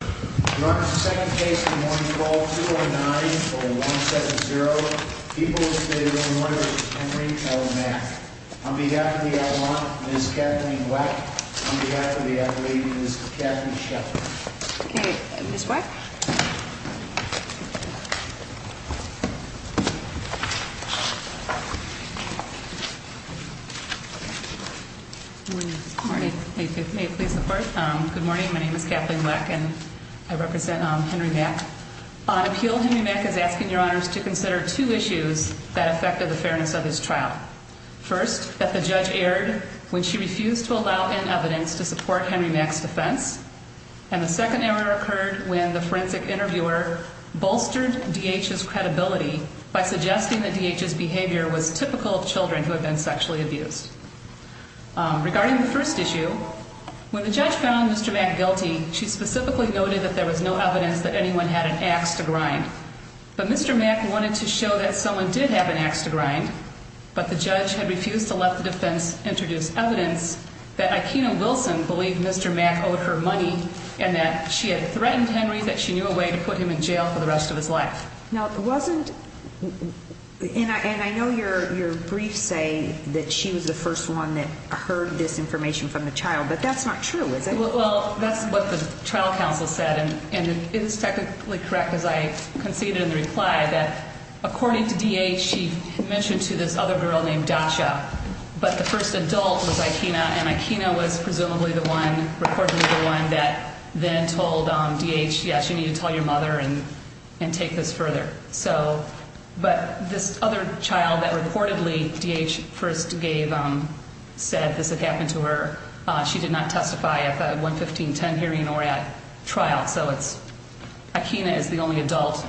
Good morning, my name is Kathleen Weck, and I'm here to speak on behalf of Ms. Kathleen Sheppard. I represent Henry Mack. On appeal, Henry Mack is asking your honors to consider two issues that affected the fairness of his trial. First, that the judge erred when she refused to allow in evidence to support Henry Mack's defense. And the second error occurred when the forensic interviewer bolstered D.H.'s credibility by suggesting that D.H.'s behavior was typical of children who have been sexually abused. Regarding the first issue, when the judge found Mr. Mack guilty, she specifically noted that there was no evidence that anyone had an axe to grind. But Mr. Mack wanted to show that someone did have an axe to grind, but the judge had refused to let the defense introduce evidence that Ikena Wilson believed Mr. Mack owed her money and that she had threatened Henry that she knew a way to put him in jail for the rest of his life. Now, it wasn't, and I know your briefs say that she was the first one that heard this information from the child, but that's not true, is it? Well, that's what the trial counsel said, and it is technically correct, as I conceded in the reply, that according to D.H., she mentioned to this other girl named Dasha. But the first adult was Ikena, and Ikena was presumably the one, reportedly the one, that then told D.H., yes, you need to tell your mother and take this further. But this other child that reportedly D.H. first said this had happened to her, she did not testify at the 11510 hearing or at trial, so Ikena is the only adult,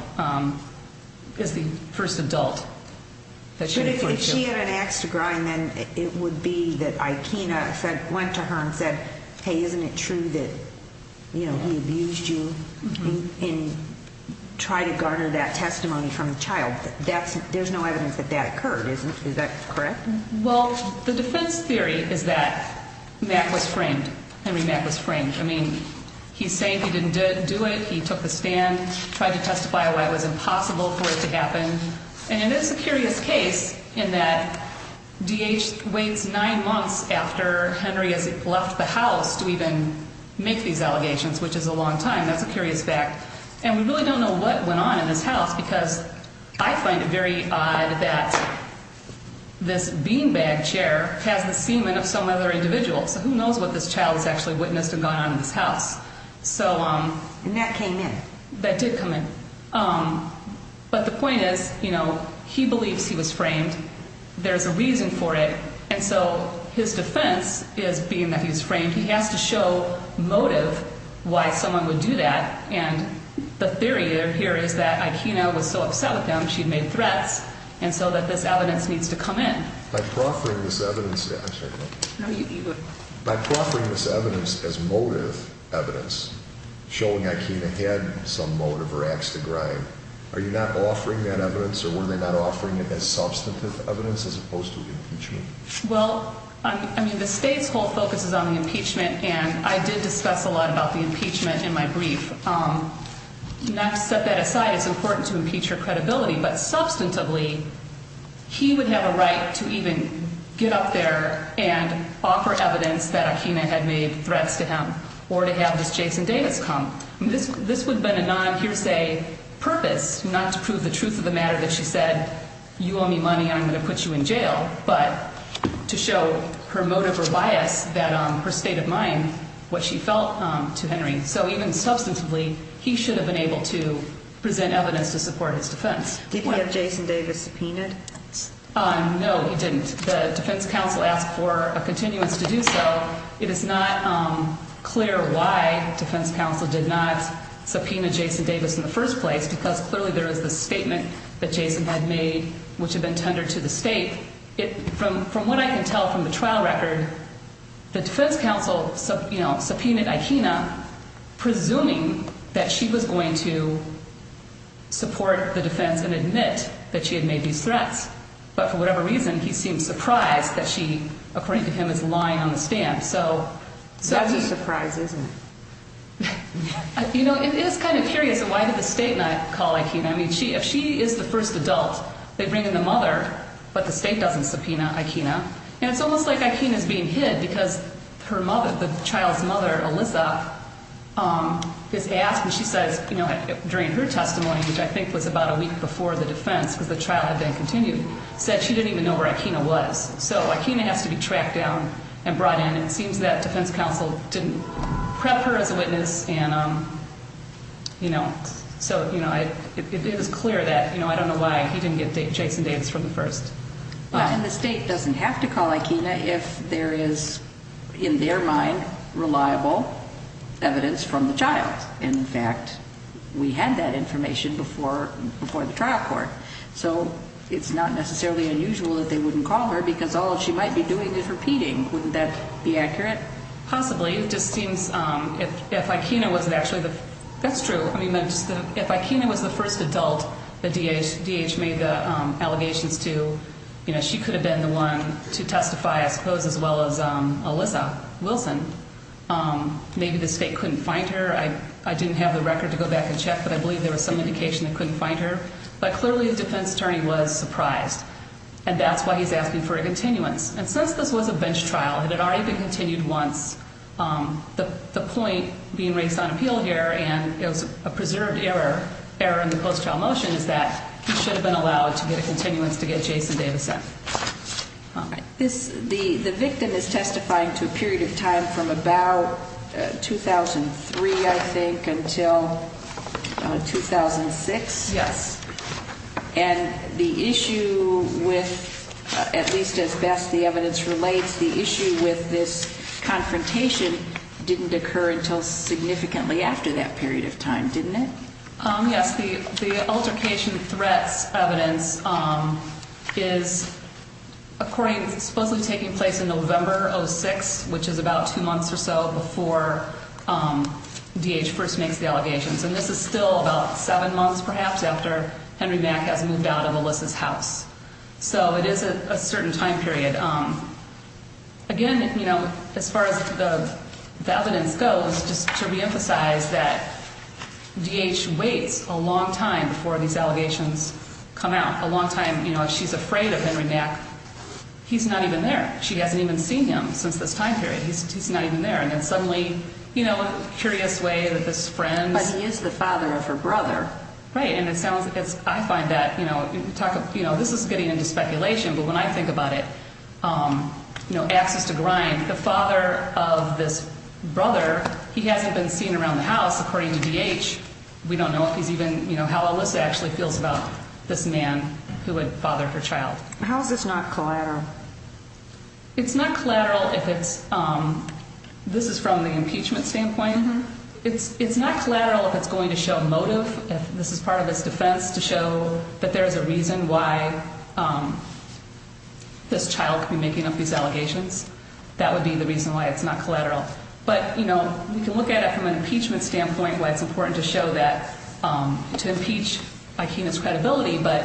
is the first adult that she referred to. If she had an axe to grind, then it would be that Ikena went to her and said, hey, isn't it true that he abused you and tried to garner that testimony from the child? There's no evidence that that occurred. Is that correct? Well, the defense theory is that Mack was framed. Henry Mack was framed. I mean, he's saying he didn't do it. He took the stand, tried to testify why it was impossible for it to happen. And it is a curious case in that D.H. waits nine months after Henry has left the house to even make these allegations, which is a long time. That's a curious fact. And we really don't know what went on in this house because I find it very odd that this beanbag chair has the semen of some other individual. So who knows what this child has actually witnessed and gone on in this house? And that came in. That did come in. But the point is, you know, he believes he was framed. There's a reason for it. And so his defense is being that he was framed. He has to show motive why someone would do that. And the theory here is that Ikena was so upset with him, she'd made threats, and so that this evidence needs to come in. By proffering this evidence as motive evidence, showing Ikena had some motive or ax to grind, are you not offering that evidence or were they not offering it as substantive evidence as opposed to impeachment? Well, I mean, the state's whole focus is on the impeachment, and I did discuss a lot about the impeachment in my brief. Not to set that aside, it's important to impeach her credibility, but substantively, he would have a right to even get up there and offer evidence that Ikena had made threats to him or to have this Jason Davis come. This would have been a non-hearsay purpose, not to prove the truth of the matter that she said, you owe me money and I'm going to put you in jail, but to show her motive or bias, her state of mind, what she felt to Henry. So even substantively, he should have been able to present evidence to support his defense. Did he have Jason Davis subpoenaed? No, he didn't. The defense counsel asked for a continuance to do so. It is not clear why defense counsel did not subpoena Jason Davis in the first place, because clearly there is the statement that Jason had made, which had been tendered to the state. From what I can tell from the trial record, the defense counsel subpoenaed Ikena, presuming that she was going to support the defense and admit that she had made these threats. But for whatever reason, he seemed surprised that she, according to him, is lying on the stand. That's a surprise, isn't it? You know, it is kind of curious, why did the state not call Ikena? I mean, if she is the first adult, they bring in the mother, but the state doesn't subpoena Ikena. And it's almost like Ikena is being hid, because her mother, the child's mother, Alyssa, is asked, and she says, you know, during her testimony, which I think was about a week before the defense, because the trial had been continued, said she didn't even know where Ikena was. So Ikena has to be tracked down and brought in. It seems that defense counsel didn't prep her as a witness, and, you know, so, you know, it is clear that, you know, I don't know why he didn't get Jason Davis for the first. And the state doesn't have to call Ikena if there is, in their mind, reliable evidence from the child. In fact, we had that information before the trial court. So it's not necessarily unusual that they wouldn't call her, because all she might be doing is repeating. Wouldn't that be accurate? Possibly. It just seems if Ikena wasn't actually the, that's true, I mean, if Ikena was the first adult that DH made the allegations to, you know, she could have been the one to testify, I suppose, as well as Alyssa Wilson. Maybe the state couldn't find her. I didn't have the record to go back and check, but I believe there was some indication they couldn't find her. But clearly the defense attorney was surprised. And that's why he's asking for a continuance. And since this was a bench trial, it had already been continued once, the point being raised on appeal here, and it was a preserved error in the post-trial motion, is that he should have been allowed to get a continuance to get Jason Davis in. The victim is testifying to a period of time from about 2003, I think, until 2006? Yes. And the issue with, at least as best the evidence relates, the issue with this confrontation didn't occur until significantly after that period of time, didn't it? Yes. The altercation threats evidence is supposedly taking place in November of 2006, which is about two months or so before DH first makes the allegations. And this is still about seven months, perhaps, after Henry Mack has moved out of Alyssa's house. So it is a certain time period. And again, as far as the evidence goes, just to reemphasize that DH waits a long time before these allegations come out, a long time. She's afraid of Henry Mack. He's not even there. She hasn't even seen him since this time period. He's not even there. And then suddenly, in a curious way, this friend's— But he is the father of her brother. Right. And it sounds—I find that—this is getting into speculation, but when I think about it, axes to grind. The father of this brother, he hasn't been seen around the house, according to DH. We don't know if he's even—how Alyssa actually feels about this man who had fathered her child. How is this not collateral? It's not collateral if it's—this is from the impeachment standpoint. It's not collateral if it's going to show motive. This is part of its defense to show that there is a reason why this child could be making up these allegations. That would be the reason why it's not collateral. But, you know, we can look at it from an impeachment standpoint, why it's important to show that—to impeach Aikina's credibility. But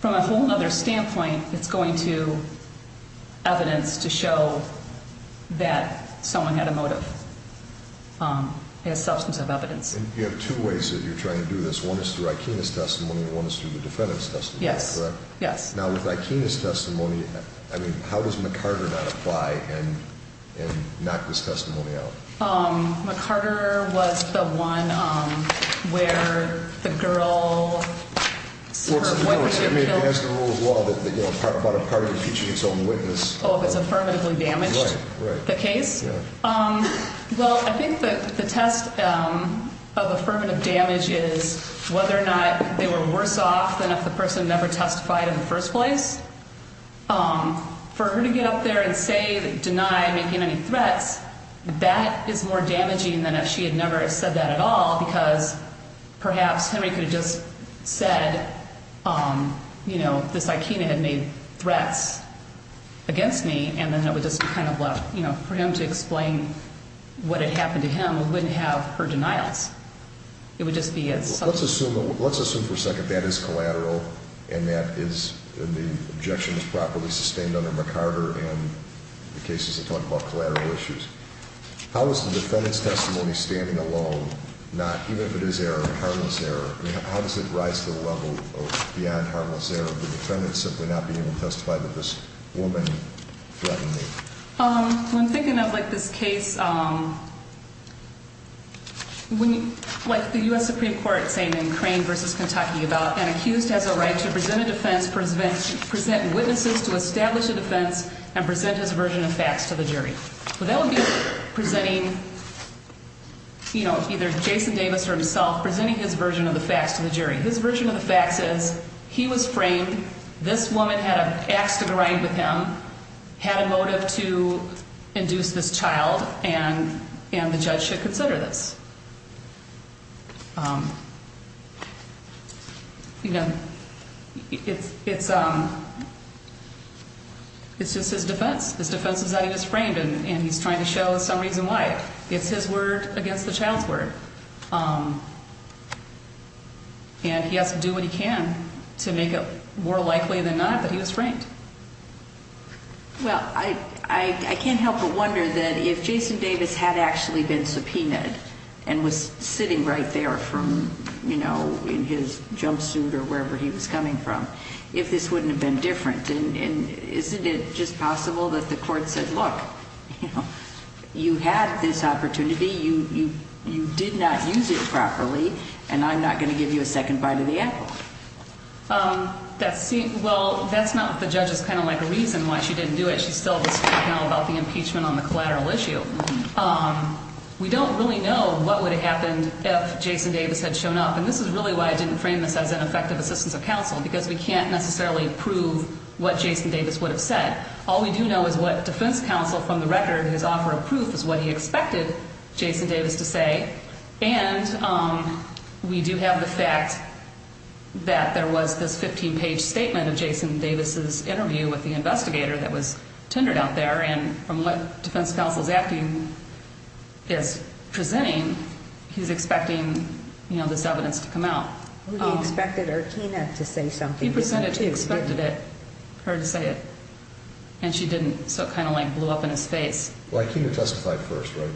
from a whole other standpoint, it's going to evidence to show that someone had a motive. It has substantive evidence. And you have two ways that you're trying to do this. One is through Aikina's testimony, and one is through the defendant's testimony, correct? Yes. Yes. Now, with Aikina's testimony, I mean, how does McCarter not apply and knock this testimony out? McCarter was the one where the girl— Well, to be honest, I mean, it has the rule of law that, you know, about a party impeaching its own witness. Oh, if it's affirmatively damaged the case? Right. Right. Well, I think the test of affirmative damage is whether or not they were worse off than if the person never testified in the first place. For her to get up there and say—deny making any threats, that is more damaging than if she had never said that at all, because perhaps Henry could have just said, you know, this Aikina had made threats against me, and then it would just be kind of left—you know, for him to explain what had happened to him, we wouldn't have her denials. It would just be a— Let's assume for a second that is collateral and that is—and the objection is properly sustained under McCarter and the cases that talk about collateral issues. How is the defendant's testimony standing alone, not—even if it is error, harmless error? I mean, how does it rise to the level of beyond harmless error, the defendant simply not being able to testify that this woman threatened me? When thinking of this case, like the U.S. Supreme Court saying in Crane v. Kentucky about an accused has a right to present a defense, present witnesses to establish a defense, and present his version of facts to the jury. Well, that would be presenting, you know, either Jason Davis or himself presenting his version of the facts to the jury. His version of the facts is he was framed, this woman had an ax to grind with him, had a motive to induce this child, and the judge should consider this. You know, it's just his defense. His defense is that he was framed, and he's trying to show some reason why. It's his word against the child's word. And he has to do what he can to make it more likely than not that he was framed. Well, I can't help but wonder that if Jason Davis had actually been subpoenaed and was sitting right there from, you know, in his jumpsuit or wherever he was coming from, if this wouldn't have been different. And isn't it just possible that the court said, look, you know, you had this opportunity, you did not use it properly, and I'm not going to give you a second bite of the apple? Well, that's not what the judge is kind of like a reason why she didn't do it. She's still discussing now about the impeachment on the collateral issue. We don't really know what would have happened if Jason Davis had shown up. And this is really why I didn't frame this as an effective assistance of counsel, because we can't necessarily prove what Jason Davis would have said. All we do know is what defense counsel from the record, his offer of proof, is what he expected Jason Davis to say. And we do have the fact that there was this 15-page statement of Jason Davis's interview with the investigator that was tendered out there. And from what defense counsel's acting is presenting, he's expecting, you know, this evidence to come out. He expected Artina to say something. He presented to expected it, for her to say it. And she didn't, so it kind of like blew up in his face. Well, Artina testified first, right?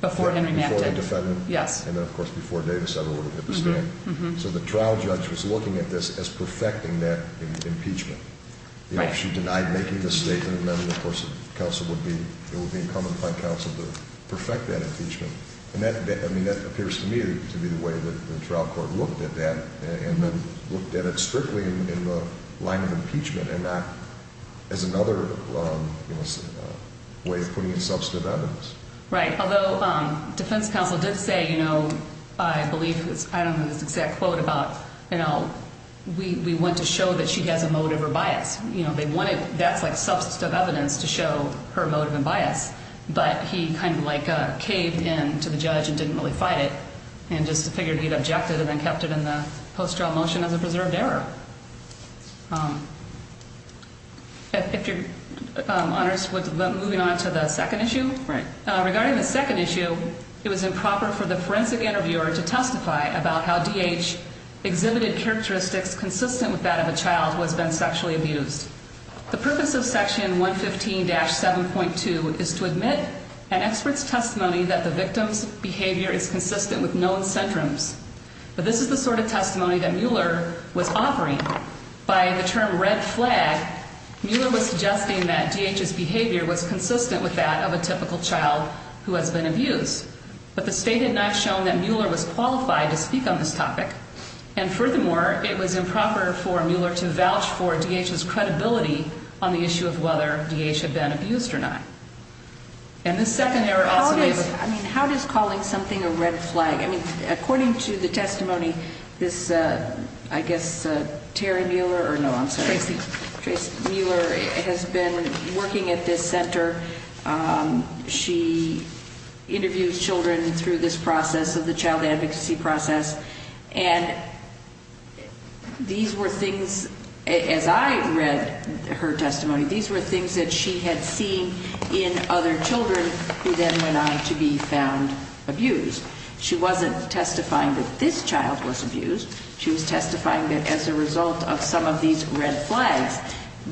Before Henry Mapp did. Before the defendant. Yes. And then, of course, before Davis ever would have hit the stand. So the trial judge was looking at this as perfecting that impeachment. Right. You know, if she denied making this statement, then, of course, counsel would be, it would be incumbent upon counsel to perfect that impeachment. I mean, that appears to me to be the way that the trial court looked at that and then looked at it strictly in the line of impeachment and not as another way of putting in substantive evidence. Right. Although defense counsel did say, you know, I believe, I don't know this exact quote about, you know, we want to show that she has a motive or bias. You know, they wanted, that's like substantive evidence to show her motive and bias. But he kind of like caved in to the judge and didn't really fight it and just figured he'd objected and then kept it in the post-trial motion as a preserved error. If your honors, moving on to the second issue. Right. Regarding the second issue, it was improper for the forensic interviewer to testify about how D.H. exhibited characteristics consistent with that of a child who has been sexually abused. The purpose of section 115-7.2 is to admit an expert's testimony that the victim's behavior is consistent with known syndromes. But this is the sort of testimony that Mueller was offering. By the term red flag, Mueller was suggesting that D.H.'s behavior was consistent with that of a typical child who has been abused. But the state had not shown that Mueller was qualified to speak on this topic. And furthermore, it was improper for Mueller to vouch for D.H.'s credibility on the issue of whether D.H. had been abused or not. And this second error also made the... How does, I mean, how does calling something a red flag? I mean, according to the testimony, this, I guess, Terry Mueller, or no, I'm sorry. Tracy. Tracy Mueller has been working at this center. She interviews children through this process of the child advocacy process. And these were things, as I read her testimony, these were things that she had seen in other children who then went on to be found abused. She wasn't testifying that this child was abused. She was testifying that as a result of some of these red flags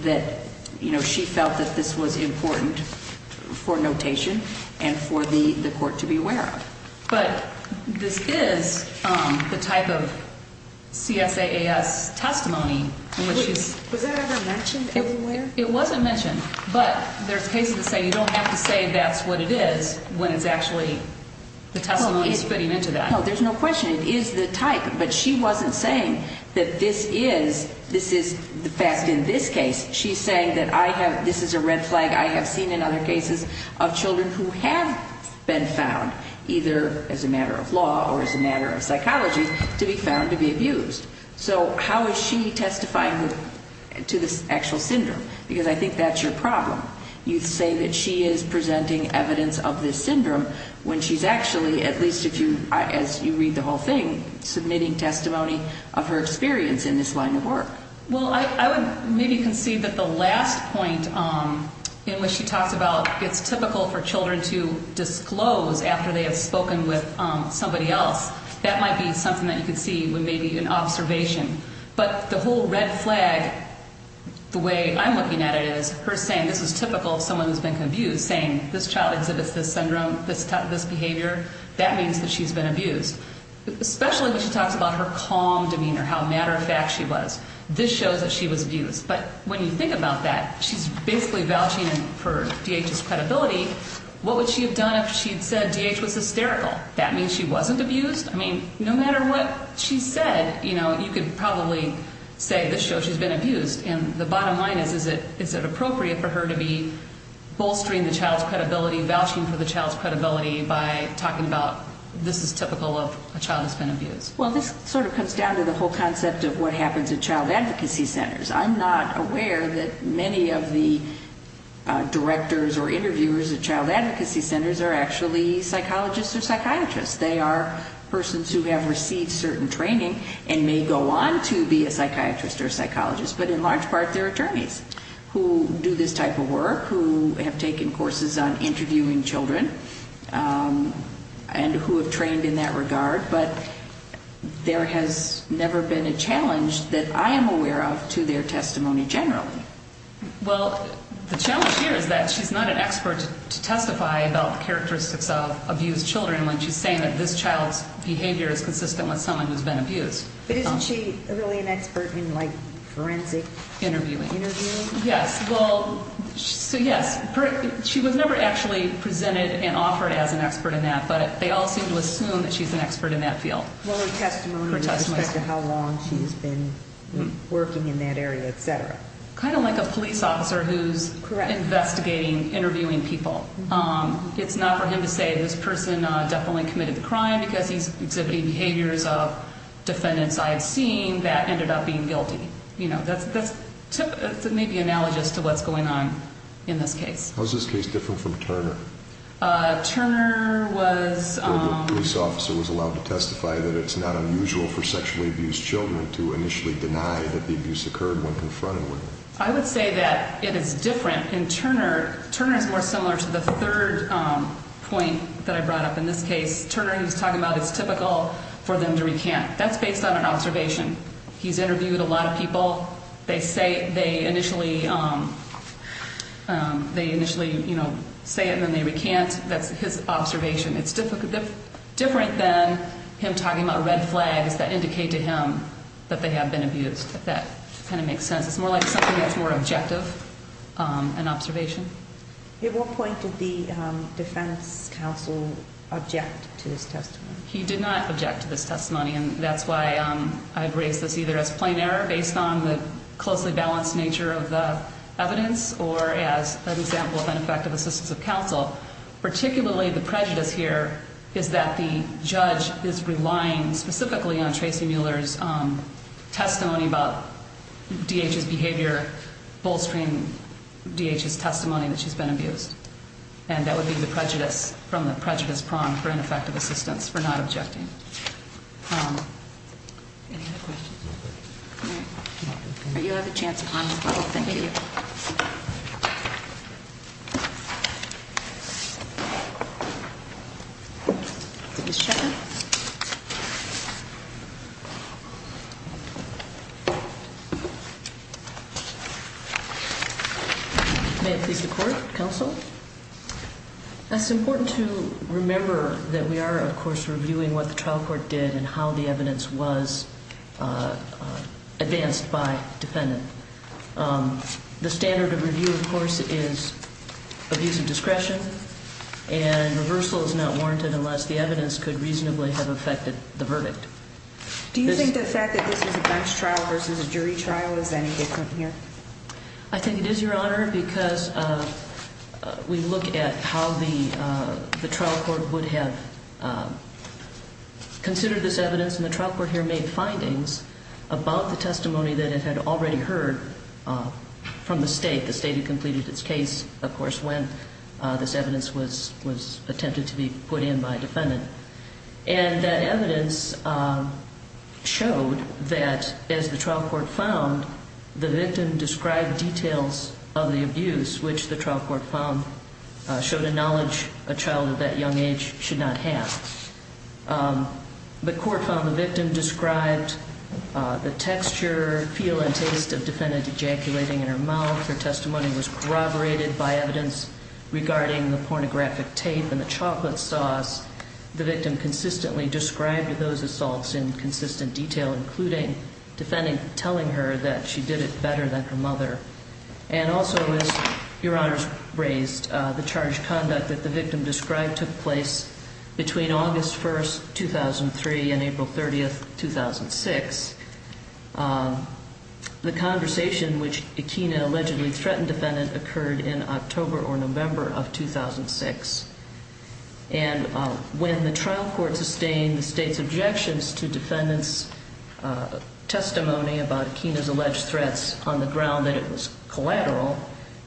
that, you know, she felt that this was important for notation and for the court to be aware of. But this is the type of CSAAS testimony in which she's... Was that ever mentioned anywhere? It wasn't mentioned. But there's cases that say you don't have to say that's what it is when it's actually, the testimony is fitting into that. No, there's no question. It is the type. But she wasn't saying that this is, this is, in this case, she's saying that I have, this is a red flag I have seen in other cases of children who have been found, either as a matter of law or as a matter of psychology, to be found to be abused. So how is she testifying to this actual syndrome? Because I think that's your problem. You say that she is presenting evidence of this syndrome when she's actually, at least if you, as you read the whole thing, submitting testimony of her experience in this line of work. Well, I would maybe concede that the last point in which she talks about it's typical for children to disclose after they have spoken with somebody else, that might be something that you could see when maybe an observation. But the whole red flag, the way I'm looking at it, is her saying this is typical of someone who's been abused, saying this child exhibits this syndrome, this behavior. That means that she's been abused. Especially when she talks about her calm demeanor, how matter of fact she was. This shows that she was abused. But when you think about that, she's basically vouching for DH's credibility. What would she have done if she had said DH was hysterical? That means she wasn't abused? I mean, no matter what she said, you know, you could probably say this shows she's been abused. And the bottom line is, is it appropriate for her to be bolstering the child's credibility, vouching for the child's credibility by talking about this is typical of a child who's been abused? Well, this sort of comes down to the whole concept of what happens at child advocacy centers. I'm not aware that many of the directors or interviewers at child advocacy centers are actually psychologists or psychiatrists. They are persons who have received certain training and may go on to be a psychiatrist or psychologist. But in large part, they're attorneys who do this type of work, who have taken courses on interviewing children, and who have trained in that regard. But there has never been a challenge that I am aware of to their testimony generally. Well, the challenge here is that she's not an expert to testify about the characteristics of abused children when she's saying that this child's behavior is consistent with someone who's been abused. But isn't she really an expert in, like, forensic interviewing? Yes, well, so yes, she was never actually presented and offered as an expert in that, but they all seem to assume that she's an expert in that field. Well, her testimony with respect to how long she's been working in that area, et cetera. Kind of like a police officer who's investigating interviewing people. It's not for him to say, this person definitely committed the crime because he's exhibiting behaviors of defendants I've seen that ended up being guilty. You know, that's maybe analogous to what's going on in this case. How is this case different from Turner? Turner was... I would say that it is different in Turner. Turner is more similar to the third point that I brought up in this case. Turner, he was talking about it's typical for them to recant. That's based on an observation. He's interviewed a lot of people. They say they initially, they initially, you know, say it and then they recant. That's his observation. It's different than him talking about red flags that indicate to him that they have been abused. That kind of makes sense. It's more like something that's more objective, an observation. At what point did the defense counsel object to this testimony? He did not object to this testimony, and that's why I've raised this either as plain error based on the closely balanced nature of the evidence particularly the prejudice here is that the judge is relying specifically on Tracy Mueller's testimony about D.H.'s behavior, bolstering D.H.'s testimony that she's been abused. And that would be the prejudice from the prejudice prong for ineffective assistance for not objecting. Any other questions? You have a chance. Thank you. May it please the court. Counsel. It's important to remember that we are, of course, reviewing what the trial court did and how the evidence was advanced by defendant. The standard of review, of course, is abuse of discretion and reversal is not warranted unless the evidence could reasonably have affected the verdict. Do you think the fact that this is a bench trial versus a jury trial is any different here? I think it is, Your Honor, because we look at how the trial court would have considered this evidence. And the trial court here made findings about the testimony that it had already heard from the state. The state had completed its case, of course, when this evidence was attempted to be put in by a defendant. And that evidence showed that, as the trial court found, the victim described details of the abuse, which the trial court found showed a knowledge a child of that young age should not have. The court found the victim described the texture, feel, and taste of defendant ejaculating in her mouth. Her testimony was corroborated by evidence regarding the pornographic tape and the chocolate sauce. The victim consistently described those assaults in consistent detail, including telling her that she did it better than her mother. And also, as Your Honor raised, the charged conduct that the victim described took place between August 1st, 2003 and April 30th, 2006. The conversation which Akina allegedly threatened defendant occurred in October or November of 2006. And when the trial court sustained the state's objections to defendant's testimony about Akina's alleged threats on the ground that it was collateral,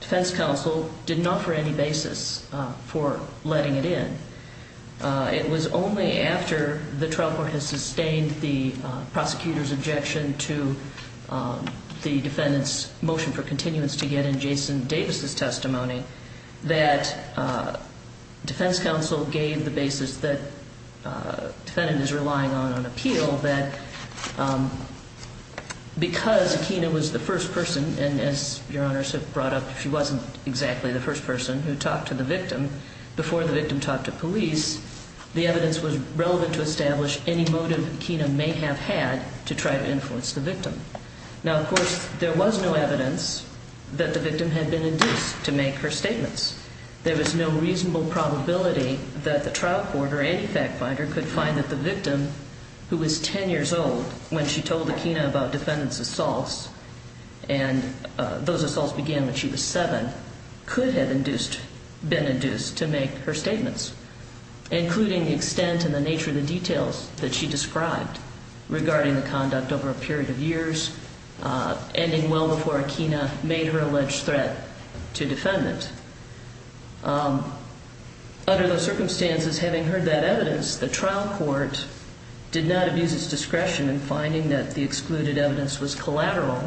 defense counsel did not offer any basis for letting it in. It was only after the trial court has sustained the prosecutor's objection to the defendant's motion for continuance to get in Jason Davis' testimony that defense counsel gave the basis that defendant is relying on, on appeal, that because Akina was the first person, and as Your Honors have brought up, she wasn't exactly the first person who talked to the victim, before the victim talked to police, the evidence was relevant to establish any motive Akina may have had to try to influence the victim. Now, of course, there was no evidence that the victim had been induced to make her statements. There was no reasonable probability that the trial court or any fact finder could find that the victim, who was 10 years old when she told Akina about defendant's assaults, and those assaults began when she was 7, could have been induced to make her statements, including the extent and the nature of the details that she described regarding the conduct over a period of years, ending well before Akina made her alleged threat to defendant. Under those circumstances, having heard that evidence, the trial court did not abuse its discretion in finding that the excluded evidence was collateral.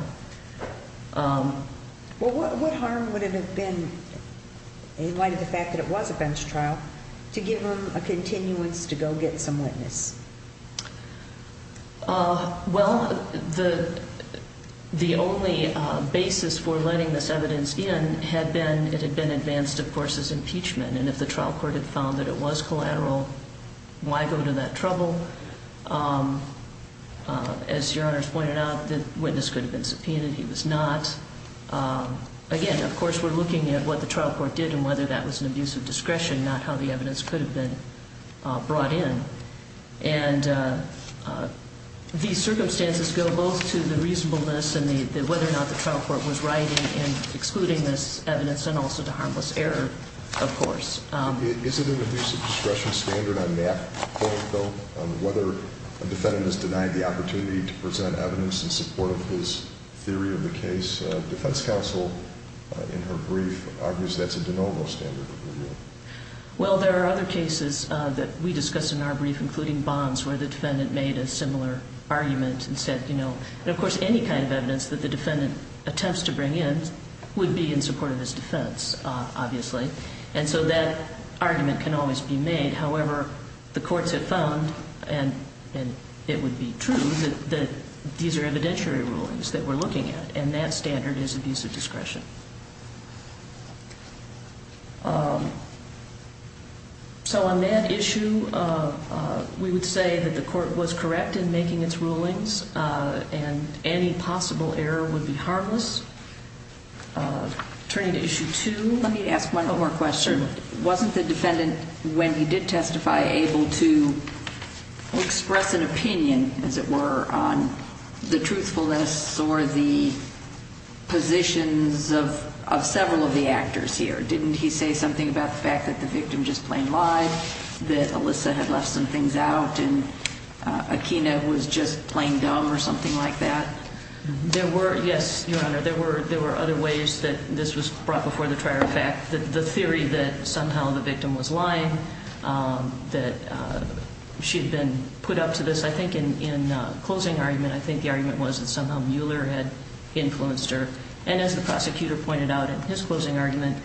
Well, what harm would it have been, in light of the fact that it was a bench trial, to give her a continuance to go get some witness? Well, the only basis for letting this evidence in had been, it had been advanced, of course, as impeachment, and if the trial court had found that it was collateral, why go to that trouble? As your Honor's pointed out, the witness could have been subpoenaed, he was not. Again, of course, we're looking at what the trial court did and whether that was an abuse of discretion, not how the evidence could have been brought in. And these circumstances go both to the reasonableness and whether or not the trial court was right in excluding this evidence, and also to harmless error, of course. Is it an abuse of discretion standard on that point, though, on whether a defendant is denied the opportunity to present evidence in support of his theory of the case? Defense counsel, in her brief, argues that's a de novo standard of review. Well, there are other cases that we discuss in our brief, including Bonds, where the defendant made a similar argument and said, you know, and of course any kind of evidence that the defendant attempts to bring in would be in support of his defense, obviously. And so that argument can always be made. However, the courts have found, and it would be true, that these are evidentiary rulings that we're looking at, and that standard is abuse of discretion. So on that issue, we would say that the court was correct in making its rulings, and any possible error would be harmless. Turning to Issue 2, let me ask one more question. Wasn't the defendant, when he did testify, able to express an opinion, as it were, on the truthfulness or the positions of several of the actors here? Didn't he say something about the fact that the victim just plain lied, that Alyssa had left some things out, and Akina was just plain dumb or something like that? There were, yes, Your Honor. There were other ways that this was brought before the trial. In fact, the theory that somehow the victim was lying, that she had been put up to this, I think in closing argument, I think the argument was that somehow Mueller had influenced her. And as the prosecutor pointed out in his closing argument,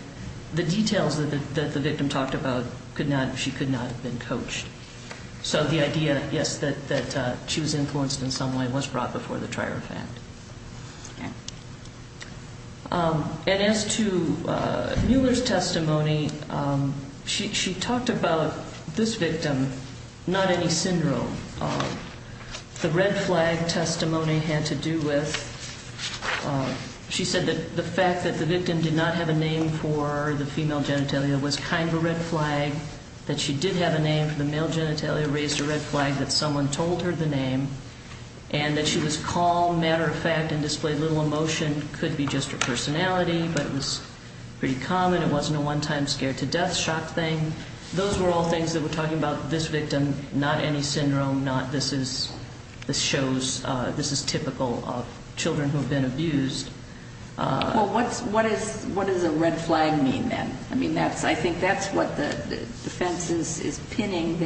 the details that the victim talked about, she could not have been coached. So the idea, yes, that she was influenced in some way was brought before the trial, in fact. And as to Mueller's testimony, she talked about this victim, not any syndrome. The red flag testimony had to do with, she said that the fact that the victim did not have a name for the female genitalia was kind of a red flag, that she did have a name for the male genitalia raised a red flag that someone told her the name, and that she was calm, matter of fact, and displayed little emotion. It could be just her personality, but it was pretty common. It wasn't a one-time scare to death shock thing. Those were all things that were talking about this victim, not any syndrome, not this is typical of children who have been abused. Well, what does a red flag mean then? I mean, I think that's what the defense is pinning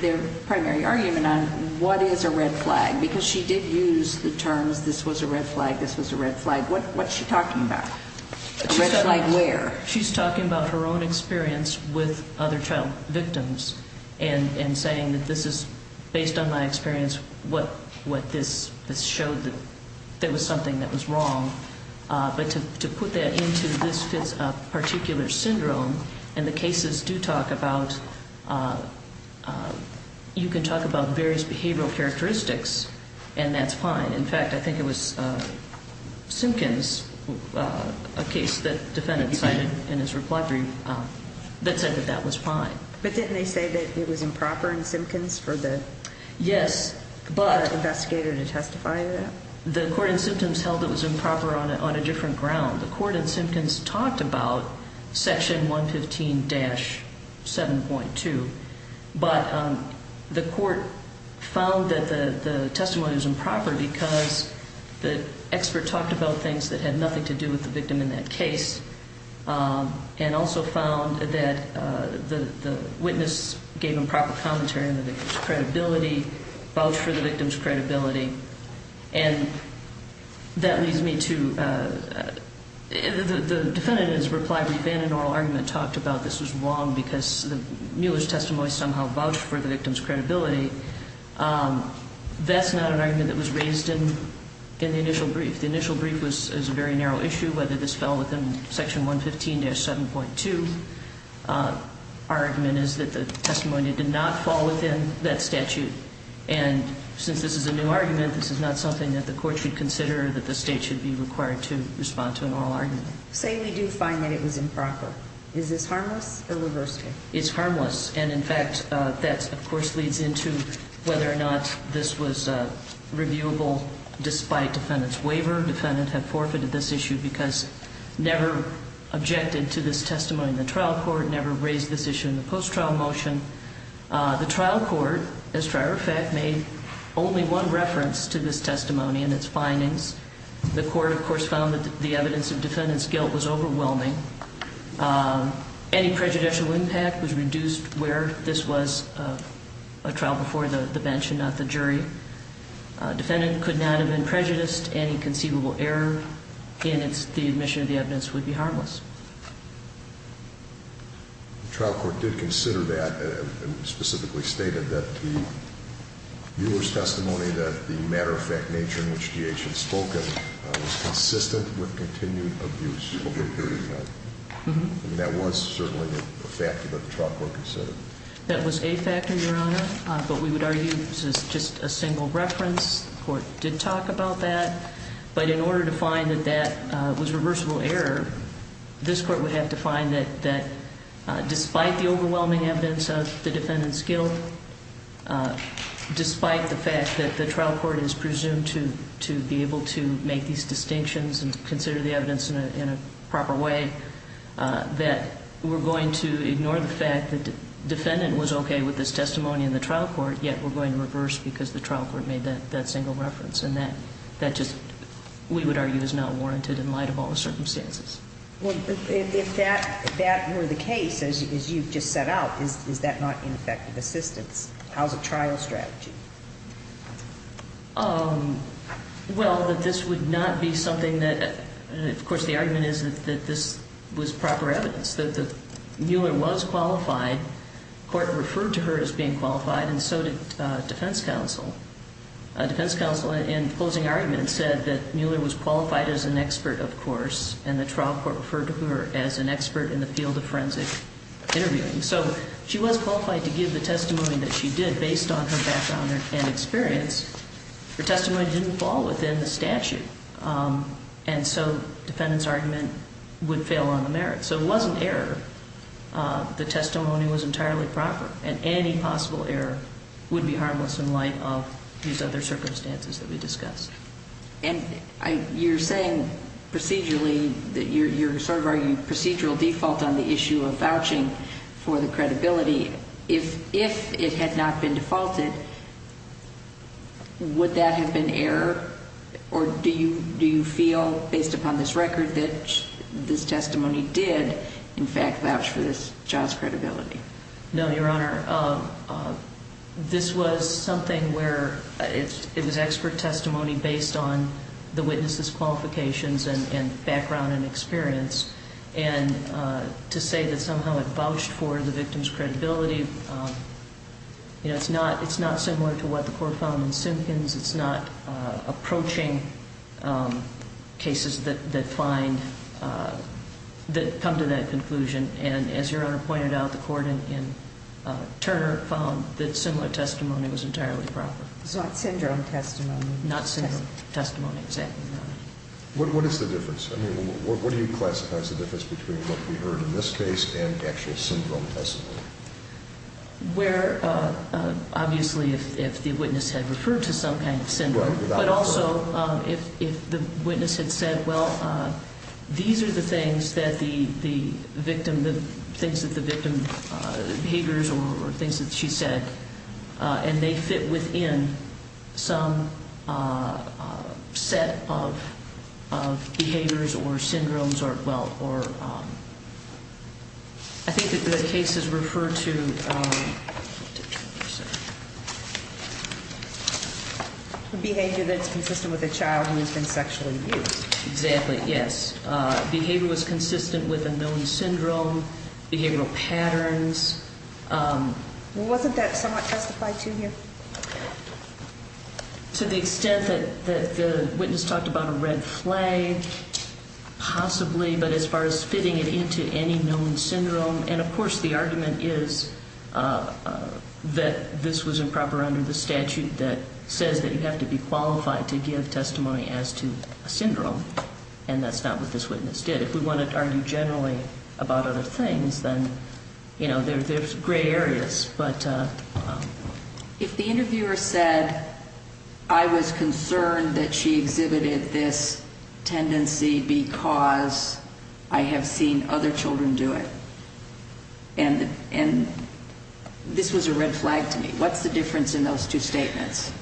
their primary argument on, what is a red flag? Because she did use the terms this was a red flag, this was a red flag. What's she talking about? A red flag where? She's talking about her own experience with other child victims and saying that this is, based on my experience, what this showed that there was something that was wrong. But to put that into this particular syndrome, and the cases do talk about, you can talk about various behavioral characteristics, and that's fine. In fact, I think it was Simpkins, a case that the defendant cited in his reply brief, that said that that was fine. But didn't they say that it was improper in Simpkins for the investigator to testify to that? The court in Simpkins held it was improper on a different ground. The court in Simpkins talked about Section 115-7.2, but the court found that the testimony was improper because the expert talked about things that had nothing to do with the victim in that case and also found that the witness gave improper commentary on the victim's credibility, vouched for the victim's credibility. And that leads me to, the defendant in his reply brief in an oral argument talked about this was wrong because Mueller's testimony somehow vouched for the victim's credibility. That's not an argument that was raised in the initial brief. The initial brief was a very narrow issue, whether this fell within Section 115-7.2. Our argument is that the testimony did not fall within that statute. And since this is a new argument, this is not something that the court should consider or that the state should be required to respond to an oral argument. Say we do find that it was improper. Is this harmless or reversible? It's harmless. And, in fact, that, of course, leads into whether or not this was reviewable despite defendant's waiver. Defendant had forfeited this issue because never objected to this testimony in the trial court, never raised this issue in the post-trial motion. The trial court, as a matter of fact, made only one reference to this testimony and its findings. The court, of course, found that the evidence of defendant's guilt was overwhelming. Any prejudicial impact was reduced where this was a trial before the bench and not the jury. Defendant could not have been prejudiced. Any conceivable error in the admission of the evidence would be harmless. The trial court did consider that and specifically stated that the viewer's testimony, that the matter-of-fact nature in which G.H. had spoken was consistent with continued abuse over a period of time. And that was certainly a factor that the trial court considered. That was a factor, Your Honor. But we would argue this is just a single reference. The court did talk about that. But in order to find that that was reversible error, this court would have to find that despite the overwhelming evidence of the defendant's guilt, despite the fact that the trial court is presumed to be able to make these distinctions and consider the evidence in a proper way, that we're going to ignore the fact that defendant was okay with this testimony in the trial court, yet we're going to reverse because the trial court made that single reference. And that just, we would argue, is not warranted in light of all the circumstances. Well, if that were the case, as you've just set out, is that not ineffective assistance? How's a trial strategy? Well, that this would not be something that, of course, the argument is that this was proper evidence, that the viewer was qualified. Court referred to her as being qualified, and so did defense counsel. Defense counsel, in closing argument, said that Mueller was qualified as an expert, of course, and the trial court referred to her as an expert in the field of forensic interviewing. So she was qualified to give the testimony that she did based on her background and experience. Her testimony didn't fall within the statute. And so defendant's argument would fail on the merits. So it wasn't error. The testimony was entirely proper. And any possible error would be harmless in light of these other circumstances that we discussed. And you're saying procedurally that you're sort of arguing procedural default on the issue of vouching for the credibility. If it had not been defaulted, would that have been error? Or do you feel, based upon this record, that this testimony did, in fact, vouch for this child's credibility? No, Your Honor. This was something where it was expert testimony based on the witness's qualifications and background and experience. And to say that somehow it vouched for the victim's credibility, it's not similar to what the court found in Simpkins. It's not approaching cases that come to that conclusion. And as Your Honor pointed out, the court in Turner found that similar testimony was entirely proper. It's not syndrome testimony. Not syndrome testimony, exactly, Your Honor. What is the difference? I mean, what do you classify as the difference between what we heard in this case and actual syndrome testimony? Where, obviously, if the witness had referred to some kind of syndrome, but also if the witness had said, well, these are the things that the victim, the things that the victim, the behaviors or things that she said, and they fit within some set of behaviors or syndromes or, well, or I think that the case is referred to. Behavior that's consistent with a child who has been sexually abused. Exactly, yes. Behavior was consistent with a known syndrome, behavioral patterns. Wasn't that somewhat testified to here? To the extent that the witness talked about a red flag, possibly, but as far as fitting it into any known syndrome. And, of course, the argument is that this was improper under the statute that says that you have to be qualified to give testimony as to a syndrome. And that's not what this witness did. If we wanted to argue generally about other things, then, you know, there's gray areas. If the interviewer said, I was concerned that she exhibited this tendency because I have seen other children do it, and this was a red flag to me, what's the difference in those two statements?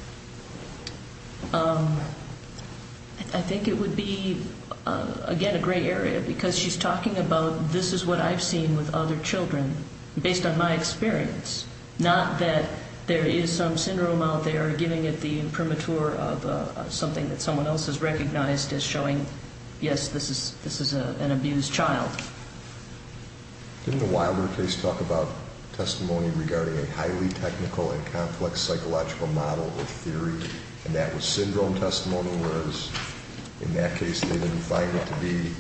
I think it would be, again, a gray area because she's talking about this is what I've seen with other children based on my experience, not that there is some syndrome out there giving it the imprimatur of something that someone else has recognized as showing, yes, this is an abused child. Didn't the Wilder case talk about testimony regarding a highly technical and complex psychological model or theory, and that was syndrome testimony, whereas in that case they didn't find it to be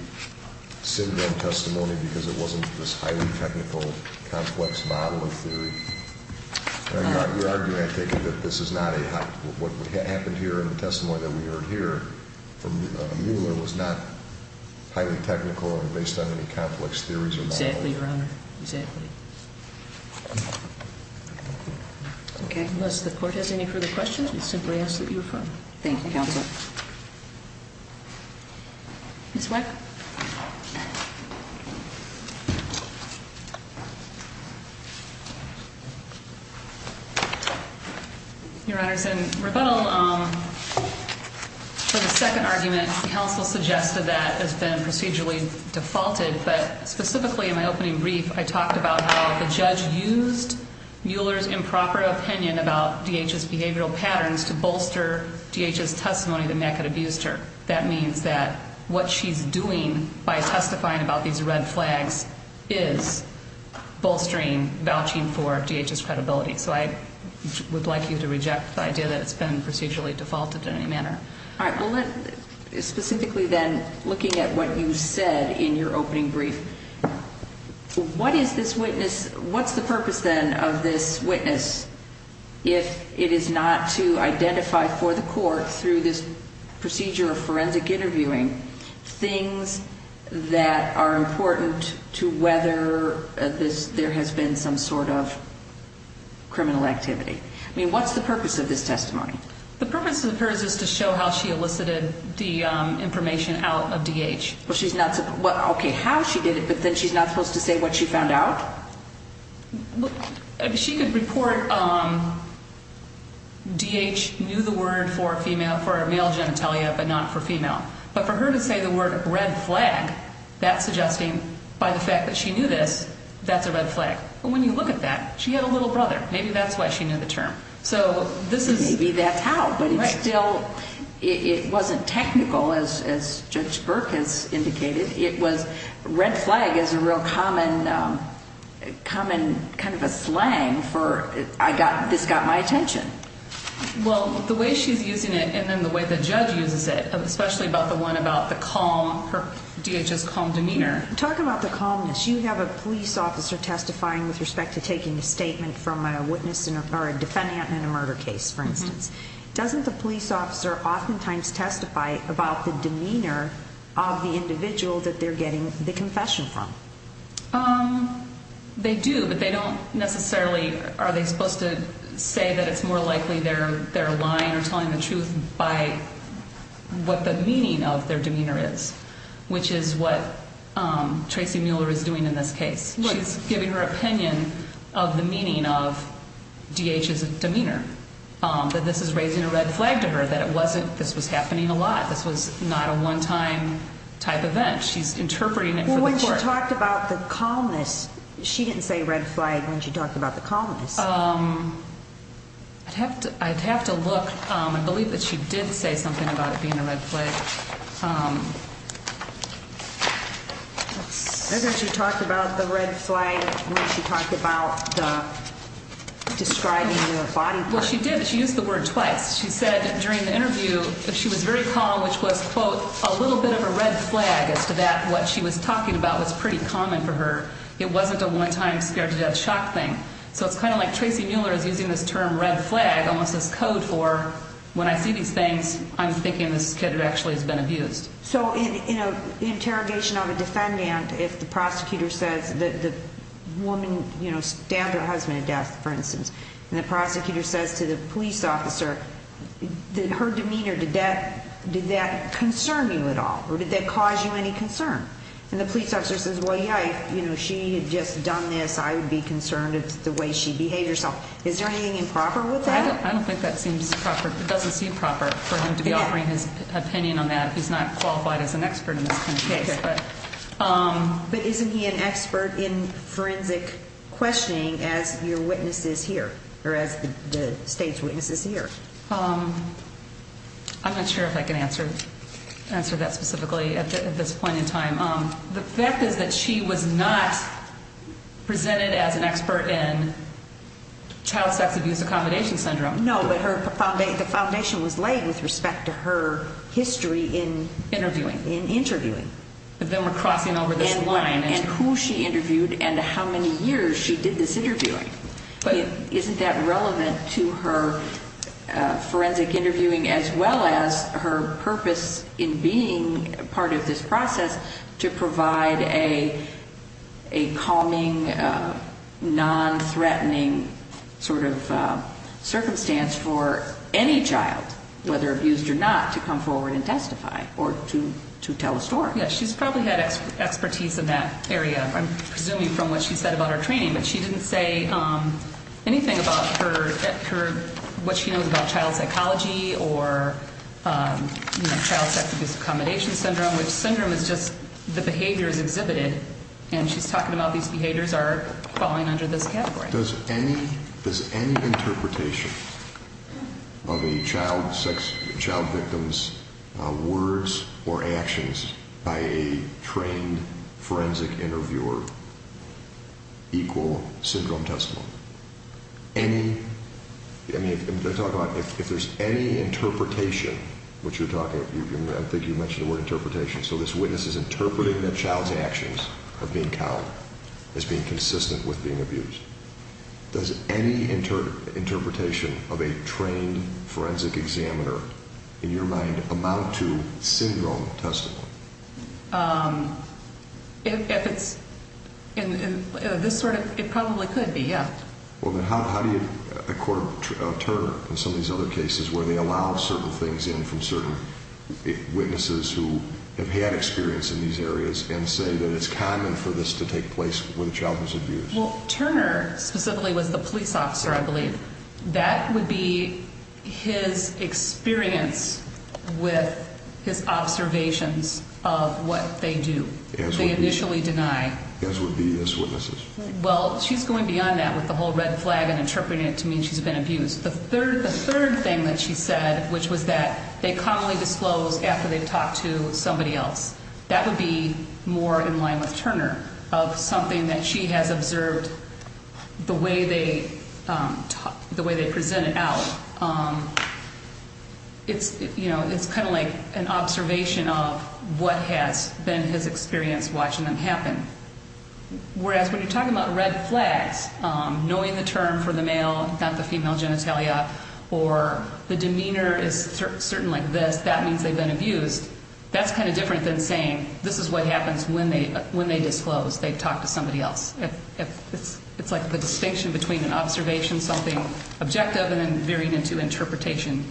syndrome testimony because it wasn't this highly technical, complex model or theory? You're arguing, I take it, that this is not a, what happened here in the testimony that we heard here from Mueller was not highly technical and based on any complex theories or models? Exactly, Your Honor, exactly. Okay. Unless the court has any further questions, we simply ask that you affirm. Thank you, Counsel. Ms. Weck? Your Honors, in rebuttal for the second argument, the counsel suggested that has been procedurally defaulted, but specifically in my opening brief I talked about how the judge used Mueller's improper opinion about DHS behavioral patterns to bolster DHS testimony that Mack had abused her. That means that what she's doing by testifying about these red flags is bolstering, vouching for DHS credibility. So I would like you to reject the idea that it's been procedurally defaulted in any manner. All right. Specifically then, looking at what you said in your opening brief, what is this witness, what's the purpose then of this witness if it is not to identify for the court through this procedure of forensic interviewing things that are important to whether there has been some sort of criminal activity? I mean, what's the purpose of this testimony? The purpose of hers is to show how she elicited the information out of DH. Okay, how she did it, but then she's not supposed to say what she found out? She could report DH knew the word for female, for male genitalia, but not for female. But for her to say the word red flag, that's suggesting by the fact that she knew this, that's a red flag. But when you look at that, she had a little brother. Maybe that's why she knew the term. Maybe that's how. But still, it wasn't technical, as Judge Burke has indicated. It was red flag is a real common kind of a slang for this got my attention. Well, the way she's using it and then the way the judge uses it, especially about the one about the calm, her DH's calm demeanor. Talk about the calmness. You have a police officer testifying with respect to taking a statement from a witness or a defendant in a murder case, for instance. Doesn't the police officer oftentimes testify about the demeanor of the individual that they're getting the confession from? They do, but they don't necessarily, are they supposed to say that it's more likely they're lying or telling the truth by what the meaning of their demeanor is? Which is what Tracy Mueller is doing in this case. She's giving her opinion of the meaning of DH's demeanor, that this is raising a red flag to her, that this was happening a lot. This was not a one-time type event. She's interpreting it for the court. Well, when she talked about the calmness, she didn't say red flag when she talked about the calmness. I'd have to look. I believe that she did say something about it being a red flag. I think she talked about the red flag when she talked about describing the body part. Well, she did. She used the word twice. She said during the interview that she was very calm, which was, quote, a little bit of a red flag as to that what she was talking about was pretty common for her. It wasn't a one-time scare to death shock thing. So it's kind of like Tracy Mueller is using this term red flag almost as code for when I see these things, I'm thinking this kid actually has been abused. So in an interrogation of a defendant, if the prosecutor says that the woman stabbed her husband to death, for instance, and the prosecutor says to the police officer that her demeanor, did that concern you at all or did that cause you any concern? And the police officer says, well, yikes, she had just done this. I would be concerned at the way she behaved herself. Is there anything improper with that? I don't think that seems proper. It doesn't seem proper for him to be offering his opinion on that. He's not qualified as an expert in this kind of case. But isn't he an expert in forensic questioning as your witness is here or as the state's witness is here? I'm not sure if I can answer that specifically at this point in time. The fact is that she was not presented as an expert in child sex abuse accommodation syndrome. No, but the foundation was laid with respect to her history in interviewing. In interviewing. Then we're crossing over this line. And who she interviewed and how many years she did this interviewing. Isn't that relevant to her forensic interviewing as well as her purpose in being part of this process to provide a calming, non-threatening sort of circumstance for any child, whether abused or not, to come forward and testify or to tell a story? Yes, she's probably had expertise in that area. I'm presuming from what she said about her training. But she didn't say anything about what she knows about child psychology or child sex abuse accommodation syndrome, which syndrome is just the behaviors exhibited. And she's talking about these behaviors are falling under this category. Does any interpretation of a child victim's words or actions by a trained forensic interviewer equal syndrome testimony? If there's any interpretation, which you're talking about, I think you mentioned the word interpretation, so this witness is interpreting that child's actions are being counted as being consistent with being abused. Does any interpretation of a trained forensic examiner, in your mind, amount to syndrome testimony? If it's in this sort of, it probably could be, yeah. Well, then how do you, the court of Turner and some of these other cases where they allow certain things in from certain witnesses who have had experience in these areas and say that it's common for this to take place with a child who's abused? Well, Turner specifically was the police officer, I believe. That would be his experience with his observations of what they do. They initially deny. As would be his witnesses. Well, she's going beyond that with the whole red flag and interpreting it to mean she's been abused. The third thing that she said, which was that they commonly disclose after they've talked to somebody else, that would be more in line with Turner of something that she has observed the way they present it out. It's kind of like an observation of what has been his experience watching them happen. Whereas when you're talking about red flags, knowing the term for the male, not the female genitalia, or the demeanor is certain like this, that means they've been abused. That's kind of different than saying this is what happens when they disclose, they've talked to somebody else. It's like the distinction between an observation, something objective, and then veering into interpretation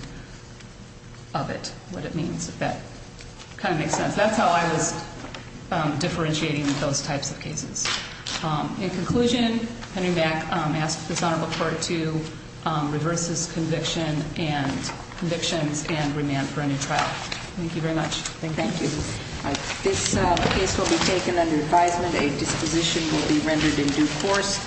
of it, what it means. If that kind of makes sense. That's how I was differentiating those types of cases. In conclusion, Henry Mack asks this Honorable Court to reverse his convictions and remand for a new trial. Thank you very much. Thank you. This case will be taken under advisement. A disposition will be rendered in due course.